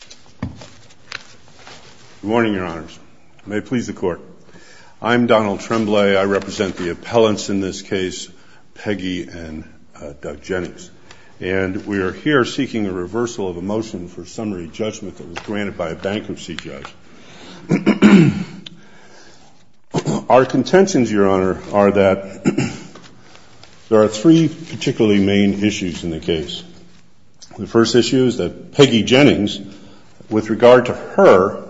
Good morning, Your Honors. May it please the Court. I'm Donald Tremblay. I represent the appellants in this case, Peggy and Doug Jennings, and we are here seeking a reversal of a motion for summary judgment that was granted by a bankruptcy judge. Our contentions, Your Honor, are that there are three particularly main issues in the case. The first issue is that with regard to her,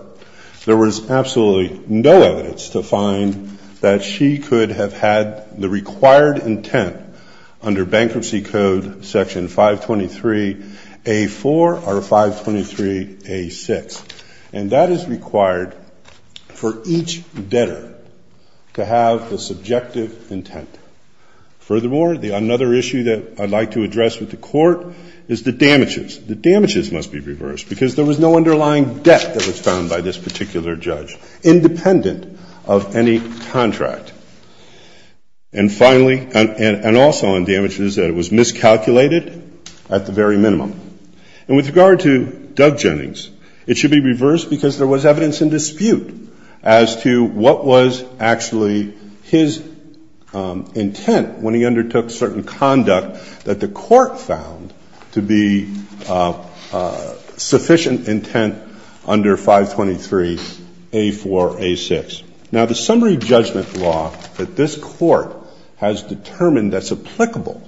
there was absolutely no evidence to find that she could have had the required intent under Bankruptcy Code Section 523A-4 or 523A-6, and that is required for each debtor to have the subjective intent. Furthermore, another issue that I'd like to address with the underlying debt that was found by this particular judge, independent of any contract. And finally, and also on damages, that it was miscalculated at the very minimum. And with regard to Doug Jennings, it should be reversed because there was evidence in dispute as to what was actually his intent when he undertook certain conduct that the court found to be sufficient intent under 523A-4, A-6. Now the summary judgment law that this court has determined that's applicable,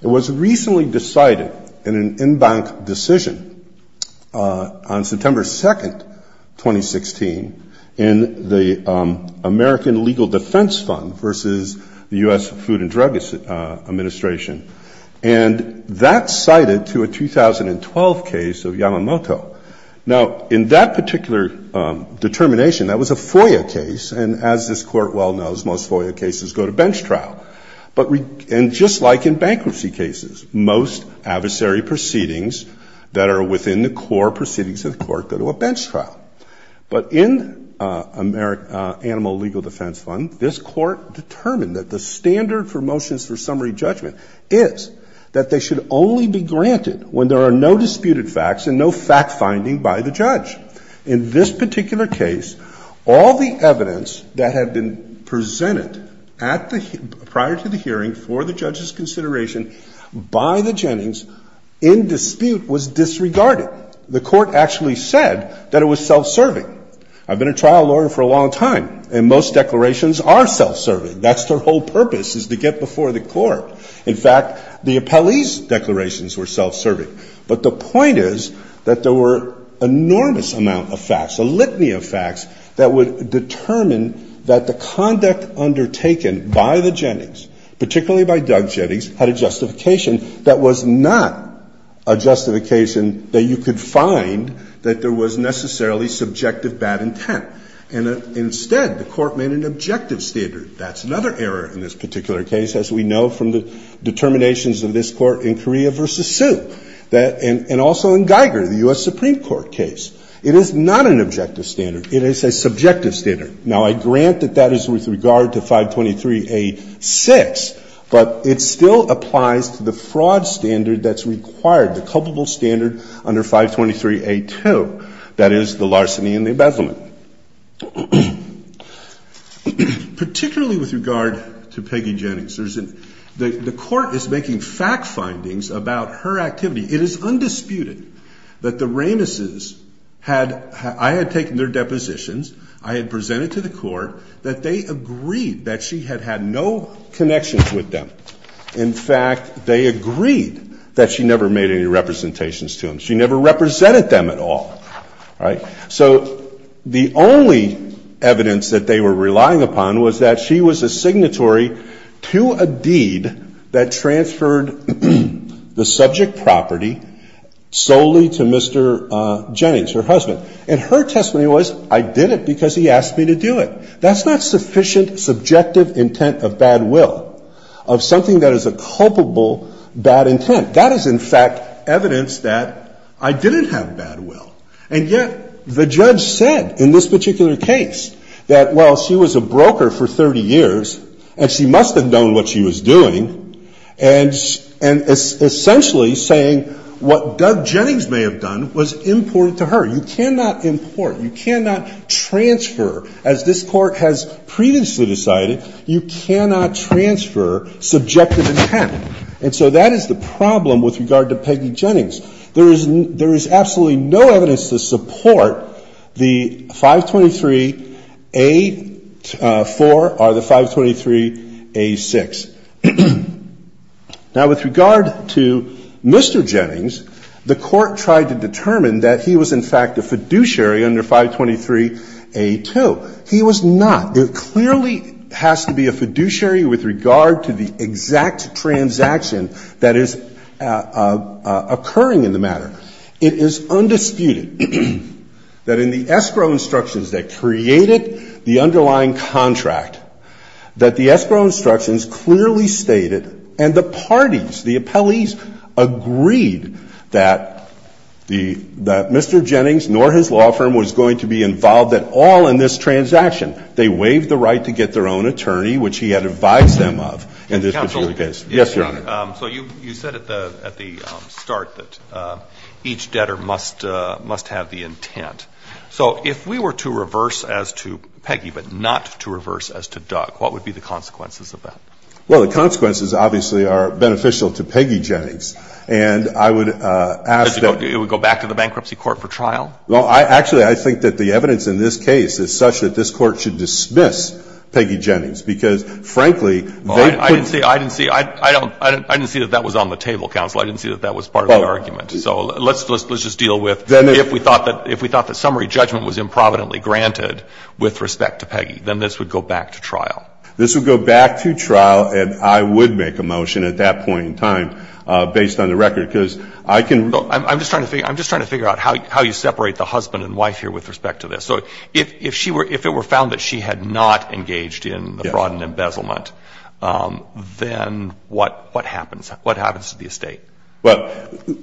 it was recently decided in an in-bank decision on September 2, 2016, in the American Legal Defense Fund versus the U.S. Food and Drug Administration. And that's cited to a 2012 case of Yamamoto. Now in that particular determination, that was a FOIA case, and as this court well knows, most FOIA cases go to bench trial. And just like in bankruptcy cases, most adversary proceedings that are within the core proceedings of the court go to a bench trial. But in Animal Legal Defense Fund, this court determined that the standard for motions for summary judgment is that they should only be granted when there are no disputed facts and no fact-finding by the judge. In this particular case, all the evidence that had been presented prior to the hearing for the judge's consideration by the Jennings in dispute was disregarded. The court actually said that it was self-serving. I've been a trial lawyer for a long time, and most declarations are self-serving. That's their whole purpose, is to get before the court. In fact, the Appellee's declarations were self-serving. But the point is that there were enormous amount of facts, a litany of facts, that would determine that the conduct undertaken by the Jennings, particularly by Doug Jennings, had a justification that was not a justification that you could find that there was necessarily subjective bad intent. And instead, the court made an objective standard. That's another error in this particular case, as we know from the determinations of this Court in Correa v. Sioux, and also in Geiger, the U.S. Supreme Court case. It is not an objective standard. It is a subjective standard. Now, I grant that that is with regard to 523a6, but it still applies to the fraud standard that's required, the culpable standard under 523a2, that is, the larceny and the embezzlement. Particularly with regard to Peggy Jennings, there's an – the court is making fact findings about her activity. It is undisputed that the Ramesses had – I had taken their depositions, I had presented to the court that they agreed that she had had no connections with them. In fact, they agreed that she never made any representations to them. She never represented them at all. All right? So the only evidence that they were relying upon was that she was a signatory to a deed that transferred the subject property solely to Mr. Jennings, her husband. And her testimony was, I did it because he asked me to do it. That's sufficient subjective intent of bad will, of something that is a culpable bad intent. That is, in fact, evidence that I didn't have bad will. And yet the judge said in this particular case that, well, she was a broker for 30 years, and she must have known what she was doing, and – and essentially saying what Doug Jennings may have done was important to her. You cannot import. You cannot transfer. As this Court has previously decided, you cannot transfer subjective intent. And so that is the problem with regard to Peggy Jennings. There is – there is absolutely no evidence to support the 523A4 or the 523A6. Now, with regard to Mr. Jennings, the Court tried to determine that he was, in fact, a fiduciary under 523A2. He was not. There clearly has to be a fiduciary with regard to the exact transaction that is occurring in the matter. It is undisputed that in the escrow instructions that created the underlying contract, that the escrow instructions clearly stated and the parties, the appellees agreed that the – that Mr. Jennings nor his law firm was going to be involved at all in this transaction. They waived the right to get their own attorney, which he had advised them of in this particular case. Counsel. Yes, Your Honor. So you – you said at the – at the start that each debtor must – must have the intent. So if we were to reverse as to Peggy, but not to reverse as to Doug, what would be the consequences of that? Well, the consequences obviously are beneficial to Peggy Jennings. And I would ask that It would go back to the bankruptcy court for trial? Well, I – actually, I think that the evidence in this case is such that this Court should dismiss Peggy Jennings because, frankly, they put I didn't see – I didn't see – I don't – I didn't see that that was on the table, Counsel. I didn't see that that was part of the argument. So let's – let's just deal with Then If we thought that – if we thought that summary judgment was improvidently granted with respect to Peggy, then this would go back to trial. This would go back to trial, and I would make a motion at that point in time, based on the record, because I can Look, I'm just trying to – I'm just trying to figure out how you separate the husband and wife here with respect to this. So if she were – if it were found that she had not engaged in the fraud and embezzlement, then what happens? What happens to the estate? Well,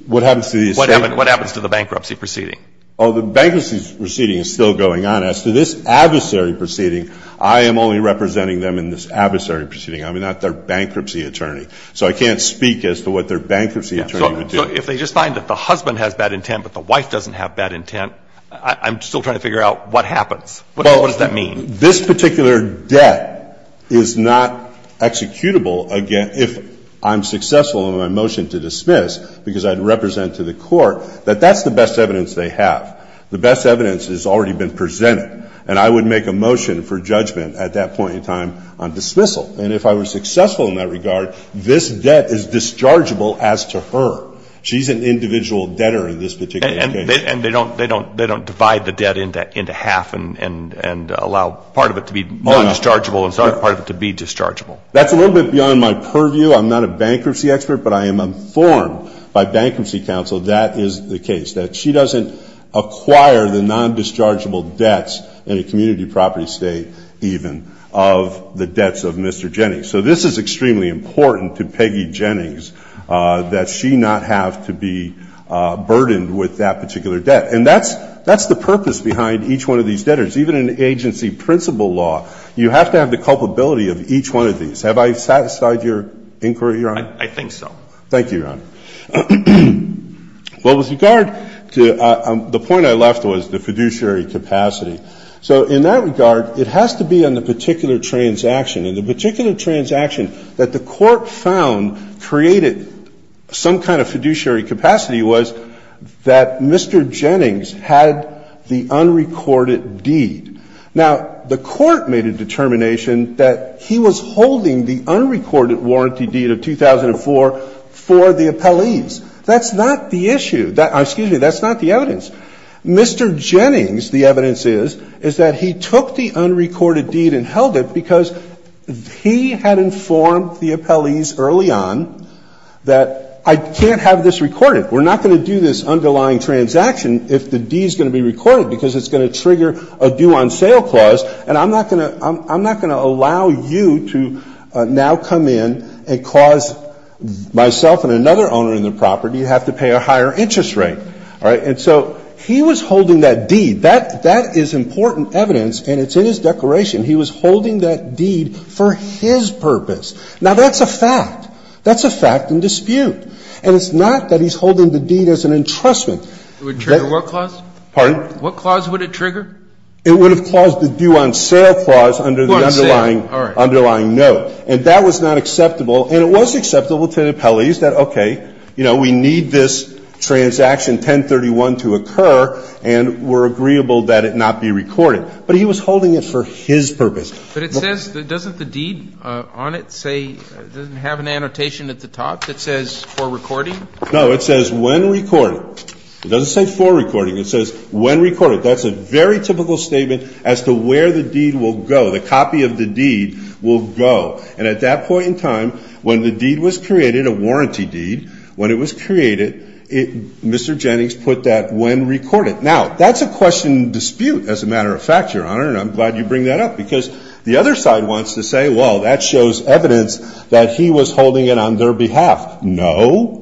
what happens to the estate? What happens to the bankruptcy proceeding? Oh, the bankruptcy proceeding is still going on. As to this adversary proceeding, I am only representing them in this adversary proceeding. I'm not their bankruptcy attorney. So I can't speak as to what their bankruptcy attorney would do. So if they just find that the husband has bad intent but the wife doesn't have bad intent, I'm still trying to figure out what happens. What does that mean? This particular debt is not executable if I'm successful in my motion to dismiss, because I'd represent to the court that that's the best evidence they have. The best evidence has already been presented, and I would make a motion for judgment at that point in time on dismissal. And if I was successful in that regard, this debt is dischargeable as to her. She's an individual debtor in this particular case. And they don't – they don't divide the debt into half and allow part of it to be non-dischargeable and part of it to be dischargeable. That's a little bit beyond my purview. I'm not a bankruptcy expert, but I am informed by bankruptcy counsel that is the case, that she doesn't acquire the non-dischargeable debts in a community property state even of the debts of Mr. Jennings. So this is extremely important to Peggy Jennings that she not have to be burdened with that particular debt. And that's the purpose behind each one of these debtors. Even in agency principle law, you have to have the culpability of each one of these. Have I satisfied your inquiry, Your Honor? I think so. Thank you, Your Honor. Well, with regard to – the point I left was the fiduciary capacity. So in that regard, it has to be on the particular transaction. And the particular transaction that the Court found created some kind of fiduciary capacity was that Mr. Jennings had the unrecorded deed. Now, the Court made a determination that he was holding the unrecorded deed of 2004 for the appellees. That's not the issue – excuse me, that's not the evidence. Mr. Jennings, the evidence is, is that he took the unrecorded deed and held it because he had informed the appellees early on that I can't have this recorded. We're not going to do this underlying transaction if the deed is going to be recorded because it's going to trigger a due on sale clause. And I'm not going to – I'm not going to allow you to now come in and cause myself and another owner in the property to have to pay a higher interest rate. All right? And so he was holding that deed. That is important evidence, and it's in his declaration. He was holding that deed for his purpose. Now, that's a fact. That's a fact in dispute. And it's not that he's holding the deed as an entrustment. It would trigger what clause? Pardon? What clause would it trigger? It would have caused the due on sale clause under the underlying – underlying note. And that was not acceptable. And it was acceptable to the appellees that, okay, you know, we need this transaction 1031 to occur, and we're agreeable that it not be recorded. But he was holding it for his purpose. But it says – doesn't the deed on it say – doesn't it have an annotation at the top that says for recording? No. It says when recorded. It doesn't say for recording. It says when recorded. That's a very typical statement as to where the deed will go, the copy of the deed will go. And at that point in time, when the deed was created, a warranty deed, when it was created, Mr. Jennings put that when recorded. Now, that's a question in dispute as a matter of fact, Your Honor, and I'm glad you bring that up because the other side wants to say, well, that shows evidence that he was holding it on their behalf. No.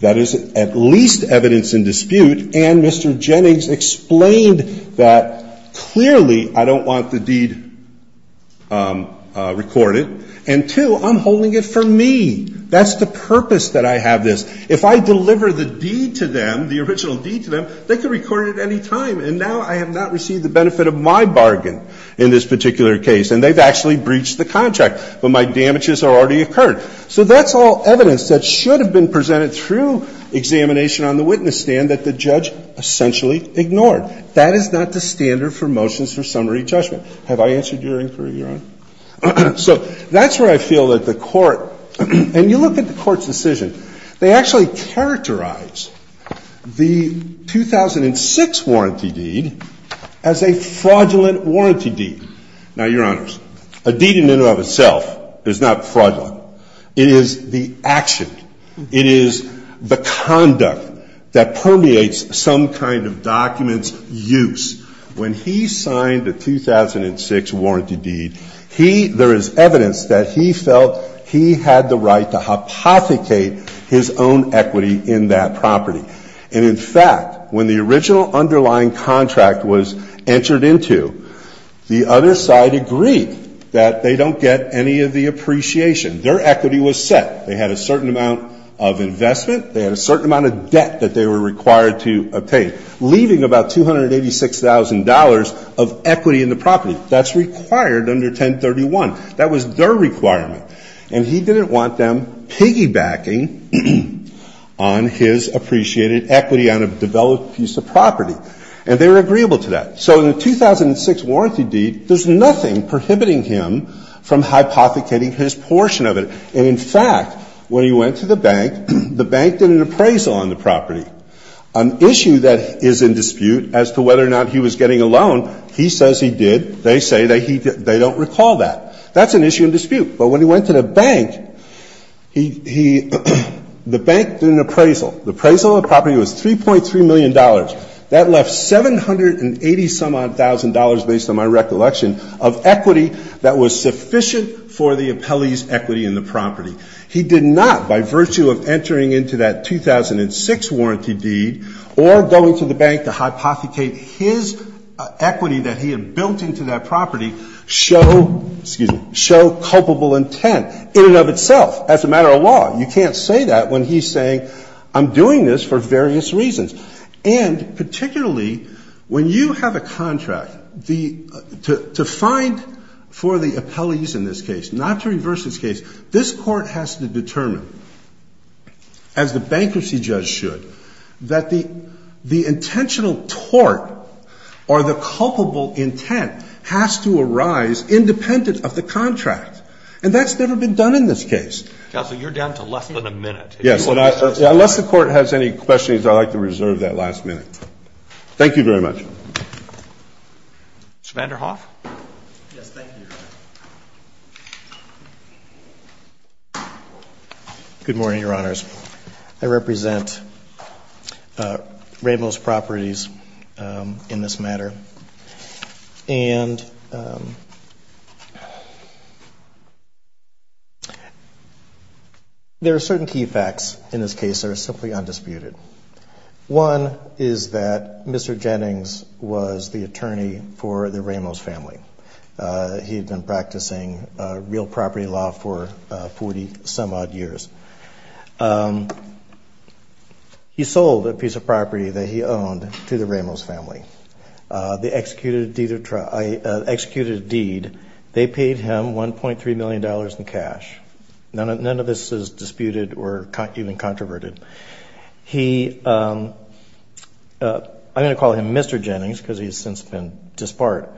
That is at least evidence in dispute. And Mr. Jennings explained that, clearly, I don't want the deed recorded. And, two, I'm holding it for me. That's the purpose that I have this. If I deliver the deed to them, the original deed to them, they can record it at any time. And now I have not received the benefit of my bargain in this particular case. And they've actually breached the contract. But my damages have already occurred. So that's all evidence that should have been presented through examination on the witness stand that the judge essentially ignored. That is not the standard for motions for summary judgment. Have I answered your inquiry, Your Honor? So that's where I feel that the Court, and you look at the Court's decision, they actually characterize the 2006 warranty deed as a fraudulent warranty deed. Now, Your Honors, a deed in and of itself is not fraudulent. It is the action. It is the conduct that permeates some kind of document's use. When he signed the 2006 warranty deed, he, there is evidence that he felt he had the right to hypothecate his own equity in that property. And, in fact, when the original underlying contract was entered into, the other side agreed that they don't get any of the appreciation. Their equity was set. They had a certain amount of investment. They had a certain amount of debt that they were required to obtain, leaving about $286,000 of equity in the property. That's required under 1031. That was their requirement. And he didn't want them piggybacking on his appreciated equity on a developed piece of property. And they were agreeable to that. So in the 2006 warranty deed, there's nothing prohibiting him from hypothecating his portion of it. And, in fact, when he went to the bank, the bank did an appraisal on the property. An issue that is in dispute as to whether or not he was getting a loan, he says he did. They say that he, they don't recall that. That's an issue in dispute. But when he went to the bank, he, the bank did an appraisal. The appraisal on the property was $3.3 million. That left $780,000-some-odd for the appellee's equity in the property. He did not, by virtue of entering into that 2006 warranty deed or going to the bank to hypothecate his equity that he had built into that property, show, excuse me, show culpable intent in and of itself as a matter of law. You can't say that when he's saying, I'm doing this for various reasons. And, particularly, when you have a contract, the, to find for the appellees in this case, not to reverse this case, this Court has to determine, as the bankruptcy judge should, that the intentional tort or the culpable intent has to arise independent of the contract. And that's never been done in this case. Counsel, you're down to less than a minute. Yes. Unless the Court has any questions, I'd like to reserve that last minute. Thank you very much. Mr. Vanderhoff? Yes, thank you. Good morning, Your Honors. I represent Ramos Properties in this matter. And there are certain key facts in this case that are simply undisputed. One is that Mr. Jennings was the attorney for the Ramos family. He had been practicing real property law for 40-some-odd years. He sold a piece of property that he owned to the Ramos family. They executed a deed. They paid him $1.3 million in cash. None of this is disputed or even controverted. He, I'm going to call him Mr. Jennings because he's since been disbarred.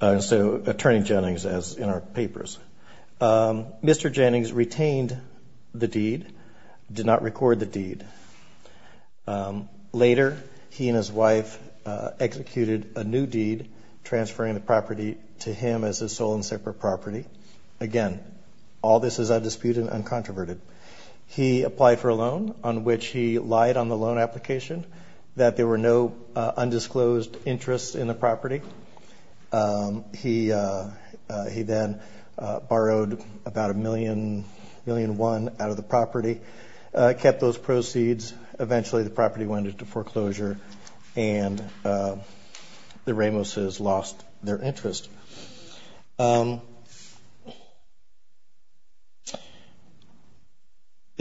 So Attorney Jennings, as in our papers. Mr. Jennings retained the deed, did not record the deed. Later, he and his wife executed a new deed transferring the property to him as his sole and separate property. Again, all this is undisputed and uncontroverted. He applied for a loan on which he lied on the loan application that there were no undisclosed interests in the property. He then borrowed about $1.1 million out of the property. Kept those proceeds. Eventually, the property went into foreclosure and the Ramoses lost their interest. The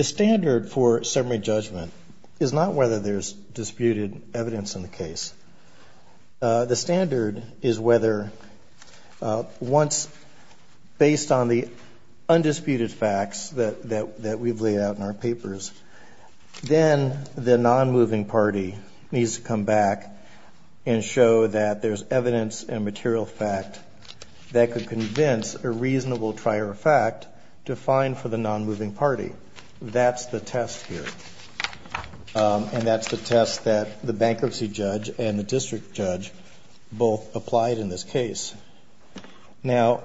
standard for summary judgment is not whether there's disputed evidence in the case. The standard is whether once, based on the undisputed facts that we've laid out in our papers, then the non-moving party needs to come back and show that there's evidence and material fact that could convince a reasonable trier of fact to fine for the non-moving party. That's the test here. And that's the test that the bankruptcy judge and the district judge both applied in this case. Now,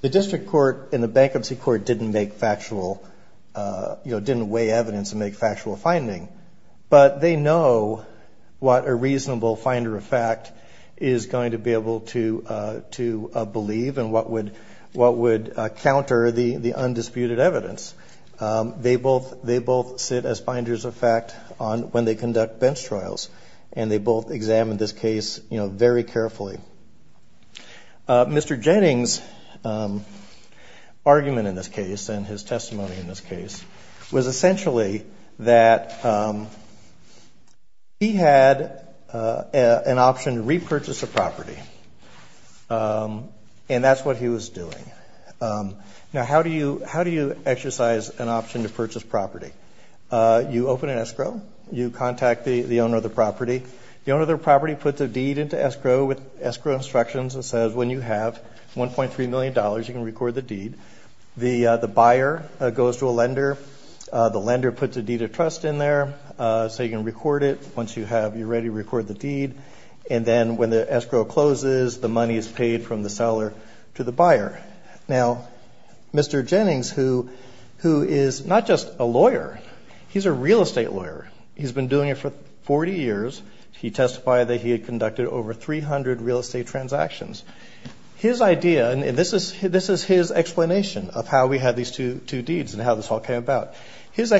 the district court and the bankruptcy court didn't make factual, you know, didn't weigh evidence and make factual finding. But they know what a reasonable finder of fact is going to be able to believe and what would counter the undisputed evidence. They both sit as finders of fact on when they conduct bench trials. And they both examined this case, you know, very carefully. Mr. Jennings' argument in this case and his testimony in this case was essentially that he had an option to repurchase a property. And that's what he was doing. Now, how do you exercise an option to purchase property? You open an escrow. You contact the owner of the property. The owner of the property puts a deed into escrow with escrow instructions and says, when you have $1.3 million, you can record the deed. The buyer goes to a lender. The lender puts a deed of trust in there so you can record it. Once you have, you're ready to record the deed. And then when the escrow closes, the money is paid from the seller to the buyer. Now, Mr. Jennings, who is not just a lawyer, he's a real estate lawyer. He's been doing it for 40 years. He testified that he had conducted over 300 real estate transactions. His idea, and this is his explanation of how we have these two deeds and how this all came about. His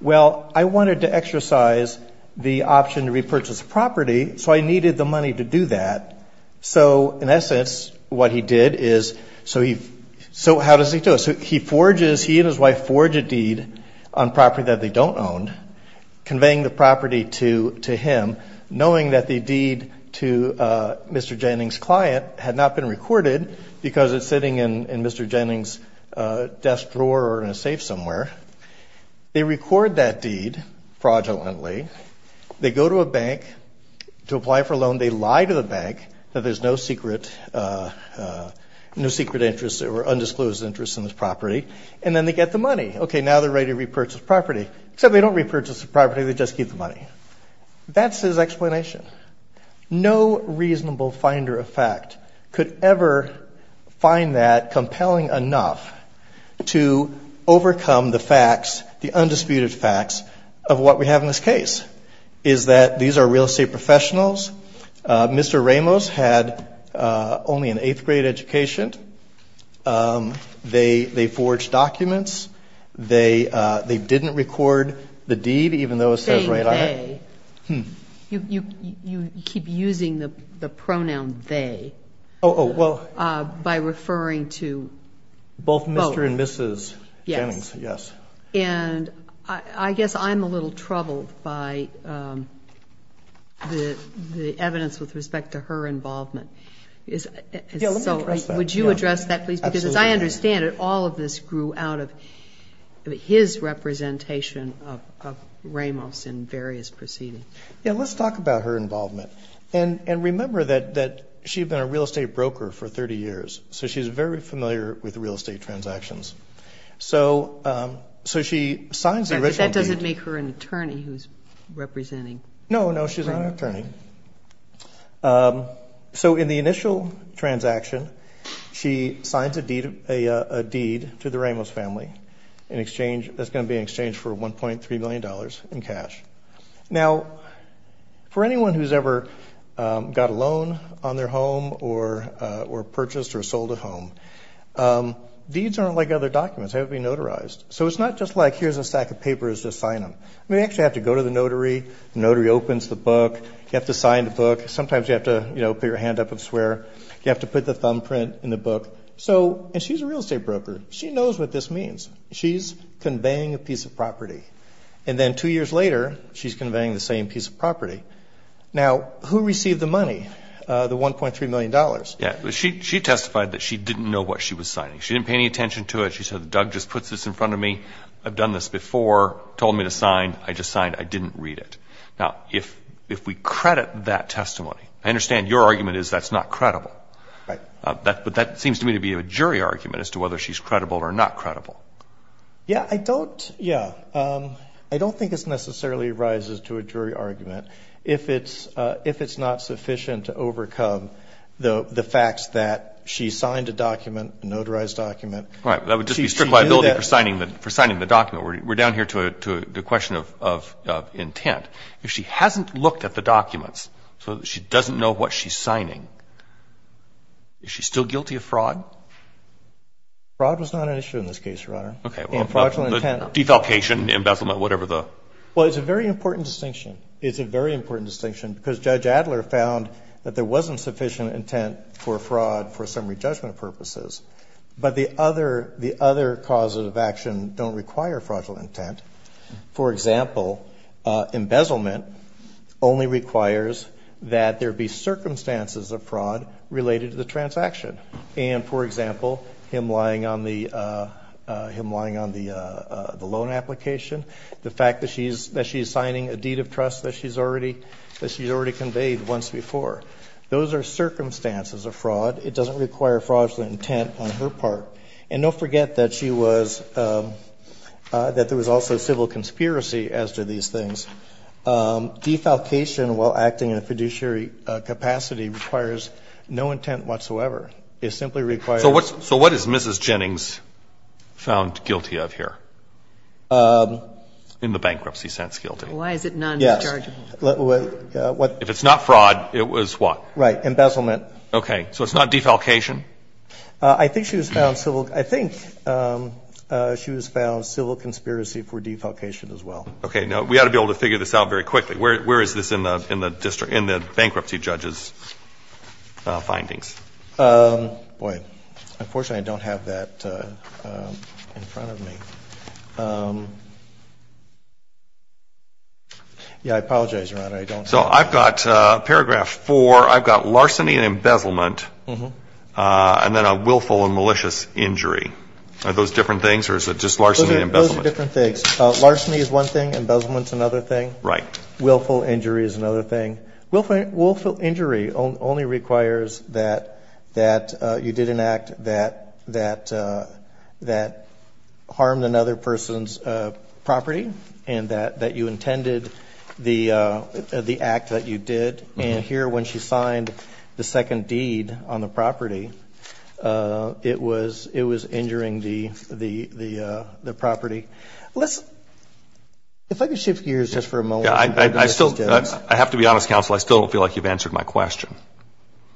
wanted to exercise the option to repurchase property. So I needed the money to do that. So in essence, what he did is, so he, so how does he do it? So he forges, he and his wife forge a deed on property that they don't own, conveying the property to him, knowing that the deed to Mr. Jennings' client had not been recorded because it's sitting in Mr. Jennings' desk drawer or in a bank. They forge that deed fraudulently. They go to a bank to apply for a loan. They lie to the bank that there's no secret, no secret interest or undisclosed interest in this property. And then they get the money. Okay, now they're ready to repurchase property. Except they don't repurchase the property. They just keep the money. That's his explanation. No reasonable finder of fact could ever find that compelling enough to overcome the facts, the undisputed facts of what we have in this case, is that these are real estate professionals. Mr. Ramos had only an eighth grade education. They forged documents. They didn't record the deed, even though it says right on it. You keep using the pronoun they by referring to both Mr. and Mrs. Jennings. Yes. And I guess I'm a little troubled by the evidence with respect to her involvement. Would you address that please? Because as I understand it, all of this grew out of his representation of Ramos in various proceedings. Yeah, let's talk about her involvement. And remember that she'd been a real estate broker for 30 years. So she's very familiar with real estate transactions. So she signs the original deed. That doesn't make her an attorney who's representing. No, no, she's not an attorney. So in the initial transaction, she signs a deed to the Ramos family in exchange, that's going to be in exchange for 1.3 million dollars in cash. Now for anyone who's ever got a loan on their home or purchased or sold a home, deeds aren't like other documents. They haven't been notarized. So it's not just like here's a stack of papers, just sign them. I mean you actually have to go to the notary, the notary opens the book, you have to sign the book. Sometimes you have to put your hand up and swear. You have to put the thumbprint in the book. So, and she's a real estate broker. She knows what this means. She's conveying a piece of property. And then two years later, she's conveying the same piece of property. Now, who received the money, the 1.3 million dollars? Yeah, she testified that she didn't know what she was signing. She didn't pay any attention to it. She said, Doug just puts this in front of me. I've done this before, told me to sign. I just signed. I didn't read it. Now, if we credit that testimony, I understand your argument is that's not credible. Right. But that seems to me to be a jury argument as to whether she's credible or not credible. Yeah, I don't, yeah. I don't think it necessarily rises to a jury argument if it's not sufficient to overcome the facts that she signed a document, a notarized document. Right, that would just be strict liability for signing the document. We're down here to the question of intent. If she hasn't looked at the documents, so she doesn't know what she's signing, is she still guilty of fraud? Fraud was not an issue in this case, Your Honor. Okay, well, defalcation, embezzlement, whatever the. Well, it's a very important distinction. It's a very important distinction because Judge Adler found that there wasn't other causes of action don't require fraudulent intent. For example, embezzlement only requires that there be circumstances of fraud related to the transaction. And, for example, him lying on the, him lying on the loan application, the fact that she's, that she's signing a deed of trust that she's already, that she's already conveyed once before. Those are circumstances of fraud. It doesn't require fraudulent intent on her part. And don't forget that she was, that there was also civil conspiracy as to these things. Defalcation while acting in a fiduciary capacity requires no intent whatsoever. It simply requires. So what's, so what is Mrs. Jennings found guilty of here? In the bankruptcy sense, guilty. Why is it non-dischargeable? Yes, what. If it's not fraud, it was what? Right, embezzlement. Okay. So it's not defalcation? I think she was found civil, I think she was found civil conspiracy for defalcation as well. Okay, now we ought to be able to figure this out very quickly. Where, where is this in the, in the district, in the bankruptcy judge's findings? Boy, unfortunately I don't have that in front of me. Yeah, I apologize, Your Honor, I don't have that. So I've got paragraph four, I've got larceny and embezzlement, and then a willful and malicious injury. Are those different things or is it just larceny and embezzlement? Those are different things. Larceny is one thing, embezzlement's another thing. Right. Willful injury is another thing. Willful, willful injury only requires that, that you did an act that, that, that harmed another person's property and that, that you intended the, the act that you did. And here when she signed the second deed on the property, it was, it was injuring the, the, the, the property. Let's, if I could shift gears just for a moment. Yeah, I, I, I still, I have to be honest, counsel, I still don't feel like you've answered my question.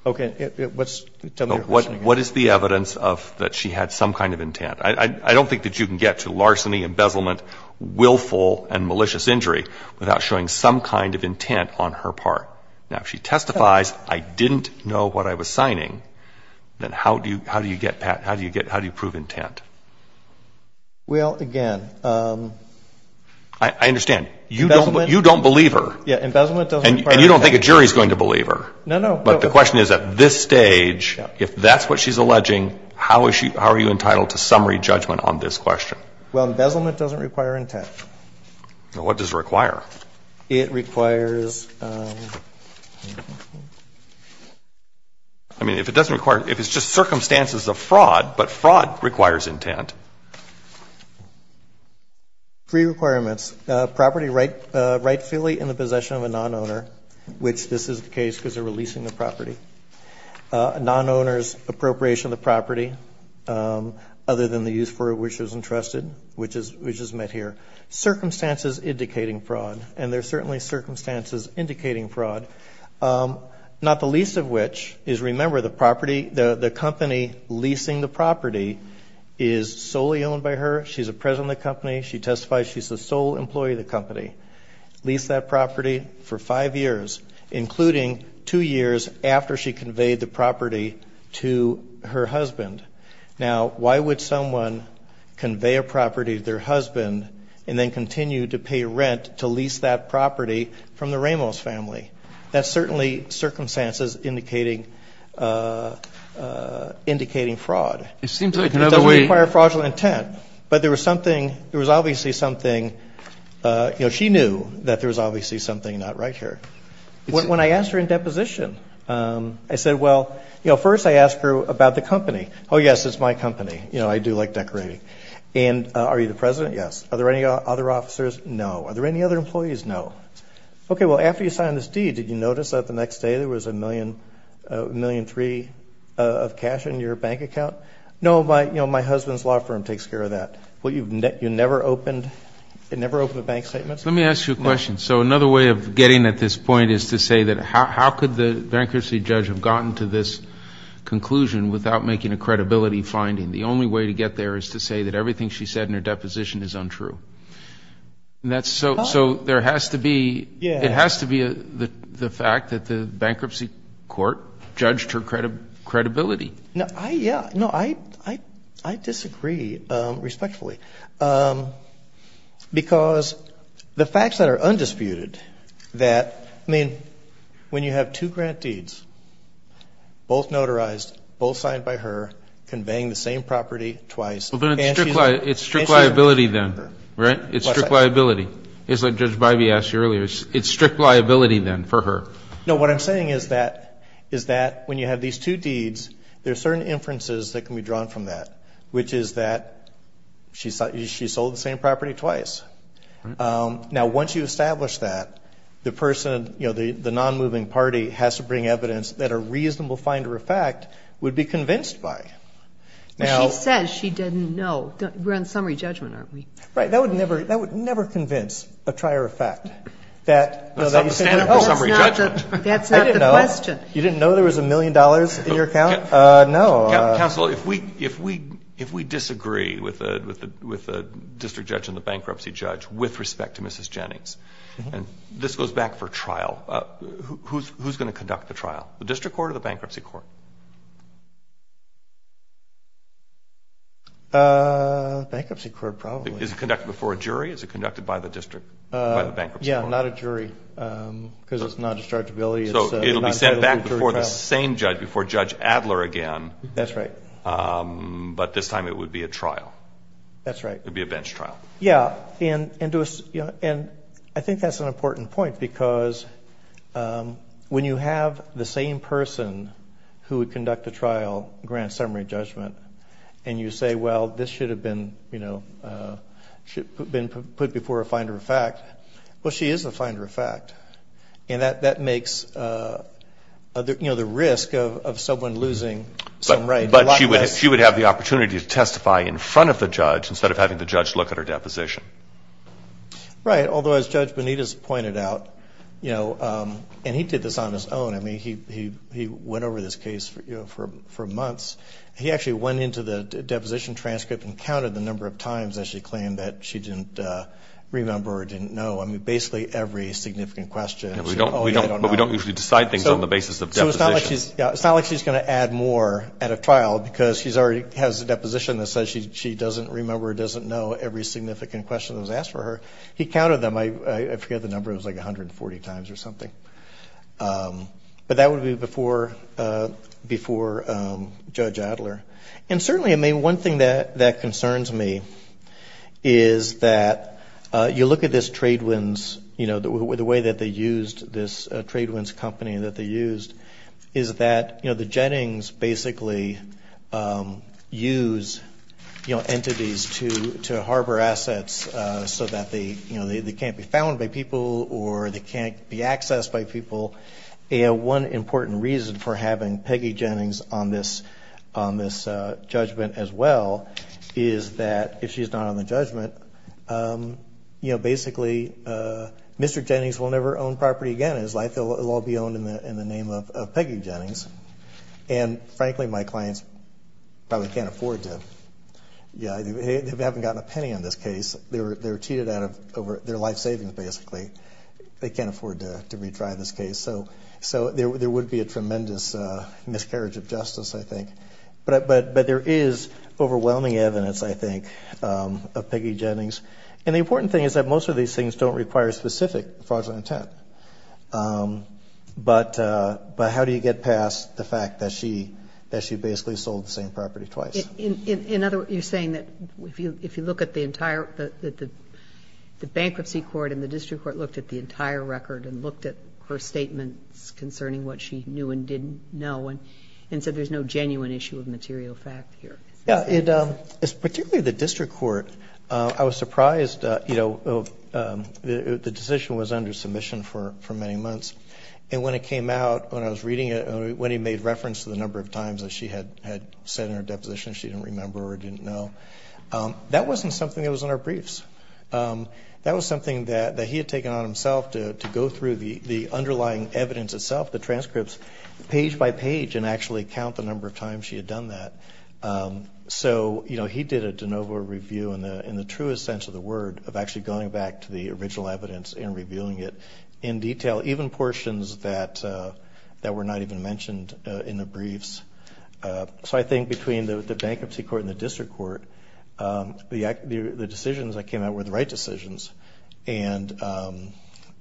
Okay, what's, tell me your question again. What is the evidence of, that she had some kind of intent? I, I, I don't think that you can get to larceny, embezzlement, willful and malicious injury without showing some kind of intent on her part. Now, if she testifies, I didn't know what I was signing, then how do you, how do you get, Pat, how do you get, how do you prove intent? Well, again, um. I, I understand. You don't, you don't believe her. Yeah, embezzlement doesn't require intent. And you don't think a jury's going to believe her. No, no. But the question is, at this stage, if that's what she's alleging, how is she, how are you entitled to summary judgment on this question? Well, embezzlement doesn't require intent. Now, what does it require? It requires, um. I mean, if it doesn't require, if it's just circumstances of fraud, but fraud requires intent. Free requirements. Property right, rightfully in the possession of a non-owner, which this is the case because they're releasing the property. Non-owner's appropriation of the property, um, other than the use for which it was entrusted, which is, which is met here. Circumstances indicating fraud. And there's certainly circumstances indicating fraud. Um, not the least of which is, remember, the property, the, the company leasing the property is solely owned by her. She's a president of the company. She testifies she's the sole employee of the company. Leased that property for five years, including two years after she conveyed the property to her husband. Now, why would someone convey a property to their husband and then continue to pay rent to lease that property from the Ramos family? That's certainly circumstances indicating, uh, uh, indicating fraud. It seems like, you know, we. It doesn't require fraudulent intent. But there was something, there was obviously something, uh, you know, she knew that there was obviously something not right here. When I asked her in deposition, um, I said, well, you know, first I asked her about the company. Oh, yes, it's my company. You know, I do like decorating. And, uh, are you the president? Yes. Are there any other officers? No. Are there any other employees? No. Okay, well, after you signed this deed, did you notice that the next day there was a million, a million three of cash in your bank account? No, my, you know, my husband's law firm takes care of that. Well, you've, you never opened, you never opened a bank statement? Let me ask you a question. So another way of getting at this point is to say that how, how could the bankruptcy judge have gotten to this conclusion without making a credibility finding? The only way to get there is to say that everything she said in her deposition is untrue. That's so, so there has to be, it has to be the, the fact that the bankruptcy court judged her credibility. No, I, yeah, no, I, I, I disagree, um, respectfully. Um, because the facts that are undisputed that, I mean, when you have two grant deeds, both notarized, both signed by her, conveying the same property twice. Well, but it's strict liability then, right? It's strict liability. It's like Judge Bybee asked you earlier. It's strict liability then for her. No, what I'm saying is that, is that when you have these two deeds, there are certain inferences that can be drawn from that. Which is that she's, she sold the same property twice. Um, now once you establish that, the person, you know, the, the non-moving party has to bring evidence that a reasonable finder of fact would be convinced by. Now she says she didn't know we're on summary judgment, aren't we? Right. That would never, that would never convince a trier of fact that that's not the question. You didn't know there was a million dollars in your account. Uh, no. Counsel, if we, if we, if we disagree with the, with the, with the district judge and the bankruptcy judge with respect to Mrs. Jennings, and this goes back for trial, who's, who's going to conduct the trial? The district court or the bankruptcy court? Uh, bankruptcy court probably. Is it conducted before a jury? Is it conducted by the district? Uh, yeah, not a jury, um, because it's not dischargeability. So it'll be sent back before the same judge, before Judge Adler again. That's right. Um, but this time it would be a trial. That's right. It'd be a bench trial. Yeah. And, and do a, you know, and I think that's an important point because, um, when you have the same person who would conduct a trial, grant summary judgment, and you say, well, this should have been, you know, uh, should have been put before a finder of fact. Well, she is a finder of fact. And that, that makes, uh, you know, the risk of, of someone losing some right. But she would, she would have the opportunity to testify in front of the judge instead of having the judge look at her deposition. Right. Although as Judge Benitez pointed out, you know, um, and he did this on his own. I mean, he, he, he went over this case for, you know, for, for months. He actually went into the deposition transcript and counted the number of times that she claimed that she didn't, uh, remember or didn't know. I mean, basically every significant question. And we don't, we don't, but we don't usually decide things on the basis of deposition. So it's not like she's, it's not like she's going to add more at a trial because she's already has a deposition that says she, she doesn't remember or doesn't know every significant question that was asked for her. He counted them. I, I forget the number. It was like 140 times or something. Um, but that would be before, uh, before, um, Judge Adler. And certainly, I mean, one thing that, that concerns me is that, uh, you look at this Tradewinds, you know, the way that they used this, uh, Tradewinds company that they used is that, you know, the Jennings basically, um, use, you know, entities to, to harbor assets, uh, so that they, you know, they, they can't be found by people or they can't be accessed by people. And one important reason for having Peggy Jennings on this, on this, uh, judgment as well is that if she's not on the judgment, um, you know, basically, uh, Mr. Jennings will never own property again in his life. They'll all be owned in the, in the name of Peggy Jennings. And frankly, my clients probably can't afford to, yeah, they haven't gotten a penny on this case. They were, they were cheated out of over their life savings. Basically they can't afford to, to retry this case. So, so there, there would be a tremendous, uh, miscarriage of justice, I think. But, but, but there is overwhelming evidence, I think, um, of Peggy Jennings. And the important thing is that most of these things don't require specific fraudulent intent. Um, but, uh, but how do you get past the fact that she, that she basically sold the same property twice? In, in, in other words, you're saying that if you, if you look at the entire, the, the, the, the bankruptcy court and the district court looked at the entire record and looked at her statements concerning what she knew and didn't know. And, and so there's no genuine issue of material fact here. Yeah, it, um, particularly the district court, uh, I was surprised, uh, you know, um, the, the decision was under submission for, for many months. And when it came out, when I was reading it, when he made reference to the number of times that she had, had said in her deposition, she didn't remember or didn't know. Um, that wasn't something that was in our briefs. Um, that was something that, that he had taken on himself to, to go through the, the underlying evidence itself, the transcripts page by page and actually count the number of times she had done that. Um, so, you know, he did a de novo review in the, in the truest sense of the word of actually going back to the original evidence and reviewing it in detail. Even portions that, uh, that were not even mentioned, uh, in the briefs. Uh, so I think between the, the bankruptcy court and the district court, um, the, the, the decisions that came out were the right decisions and, um,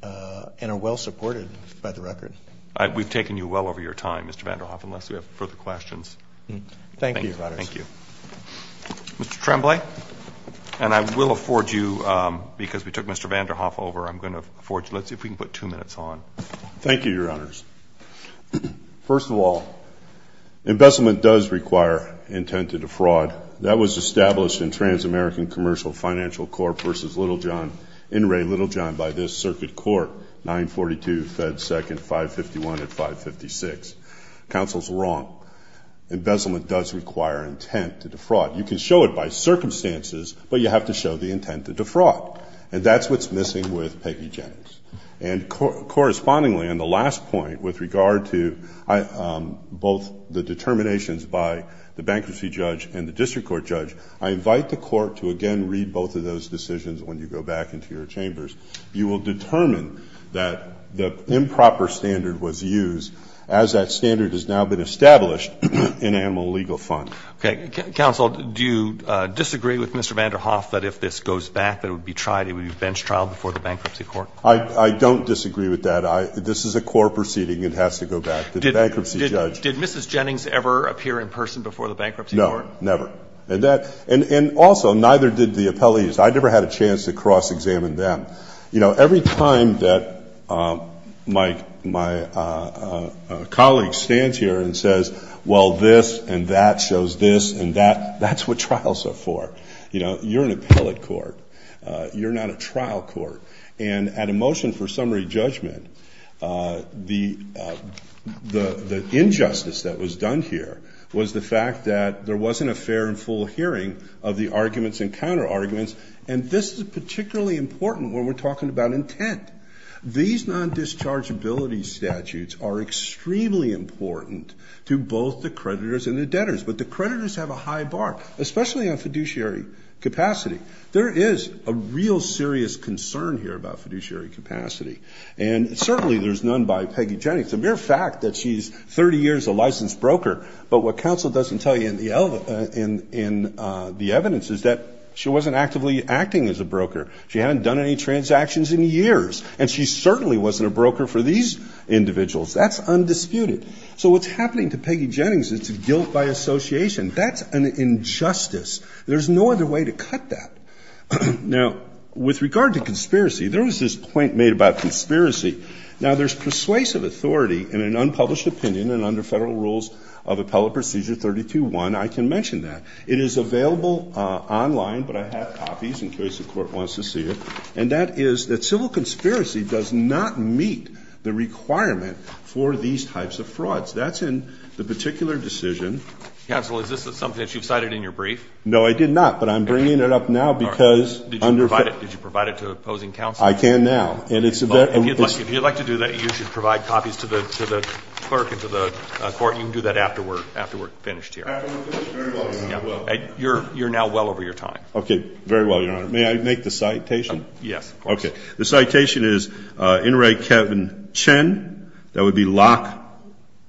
uh, and are well supported by the record. I, we've taken you well over your time, Mr. Vanderhoff, unless we have further questions. Thank you. Thank you, Mr. Tremblay. And I will afford you, um, because we took Mr. Vanderhoff over, I'm going to afford you. Let's see if we can put two minutes on. Thank you, Your Honors. First of all, embezzlement does require intent to defraud. That was established in Trans-American Commercial Financial Corp versus Littlejohn, in Ray Littlejohn by this circuit court, 942 Fed 2nd, 551 and 556. Counsel's wrong. Embezzlement does require intent to defraud. You can show it by circumstances, but you have to show the intent to defraud. And that's, what's missing with Peggy Jennings. And cor, correspondingly, on the last point with regard to, I, um, both the determinations by the bankruptcy judge and the district court judge, I invite the court to again, read both of those decisions. When you go back into your chambers, you will determine that the improper standard was used as that standard has now been established in animal legal fund. Okay. Counsel, do you disagree with Mr. Vanderhoff that if this goes back, that it would be tried, it would be bench trial before the bankruptcy court? I, I don't disagree with that. I, this is a core proceeding. It has to go back to the bankruptcy judge. Did Mrs. Jennings ever appear in person before the bankruptcy court? No, never. And that, and, and also neither did the appellees. I never had a chance to cross-examine them. You know, every time that, um, my, my, uh, uh, uh, colleague stands here and says, well, this and that shows this and that, that's what trials are for. You know, you're an appellate court. Uh, you're not a trial court. And at a motion for summary judgment, uh, the, uh, the, the injustice that was done here was the fact that there wasn't a fair and full hearing of the arguments and counter-arguments. And this is particularly important when we're talking about intent. These non-dischargeability statutes are extremely important to both the creditors and the debtors, but the creditors have a high bar, especially on fiduciary capacity. There is a real serious concern here about fiduciary capacity, and certainly there's none by Peggy Jennings. The mere fact that she's 30 years, a licensed broker, but what counsel doesn't tell you in the, uh, in, in, uh, the evidence is that she wasn't actively acting as a broker. She hadn't done any transactions in years, and she certainly wasn't a broker for these individuals. That's undisputed. So what's happening to Peggy Jennings, it's a guilt by association. That's an injustice. There's no other way to cut that. Now with regard to conspiracy, there was this point made about conspiracy. Now there's persuasive authority in an unpublished opinion and under federal rules of appellate procedure 32 one, I can mention that it is available, uh, online, but I have copies in case the court wants to see it. And that is that civil conspiracy does not meet the requirement for these types of frauds. That's in the particular decision. Counsel, is this something that you've cited in your brief? No, I did not, but I'm bringing it up now because did you provide it? Did you provide it to opposing counsel? I can now, and it's, if you'd like, if you'd like to do that, you should provide copies to the, to the clerk and to the court. You can do that after we're, after we're finished here, you're, you're now well over your time. Okay. Very well. Your honor, may I make the citation? Yes. Okay. The citation is, uh, in Ray, Kevin Chen, that would be lock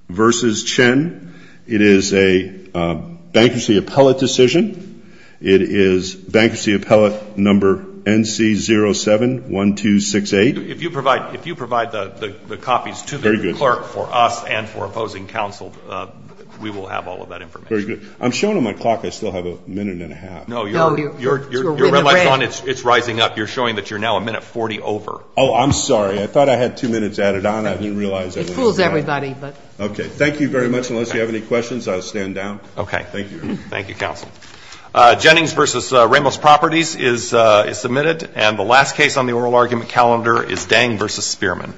versus Chen. It is a bankruptcy appellate decision. It is bankruptcy appellate number NC071268. If you provide, if you provide the copies to the clerk for us and for opposing counsel, uh, we will have all of that information. I'm showing on my clock. I still have a minute and a half. No, you're, you're, you're, you're, it's rising up. You're showing that you're now a minute 40 over. Oh, I'm sorry. I thought I had two minutes added on. I didn't realize. It fools everybody, but. Okay. Thank you very much. Unless you have any questions, I'll stand down. Okay. Thank you. Thank you, counsel. Uh, Jennings versus, uh, Ramos properties is, uh, is submitted. And the last case on the oral argument calendar is Dang versus Spearman.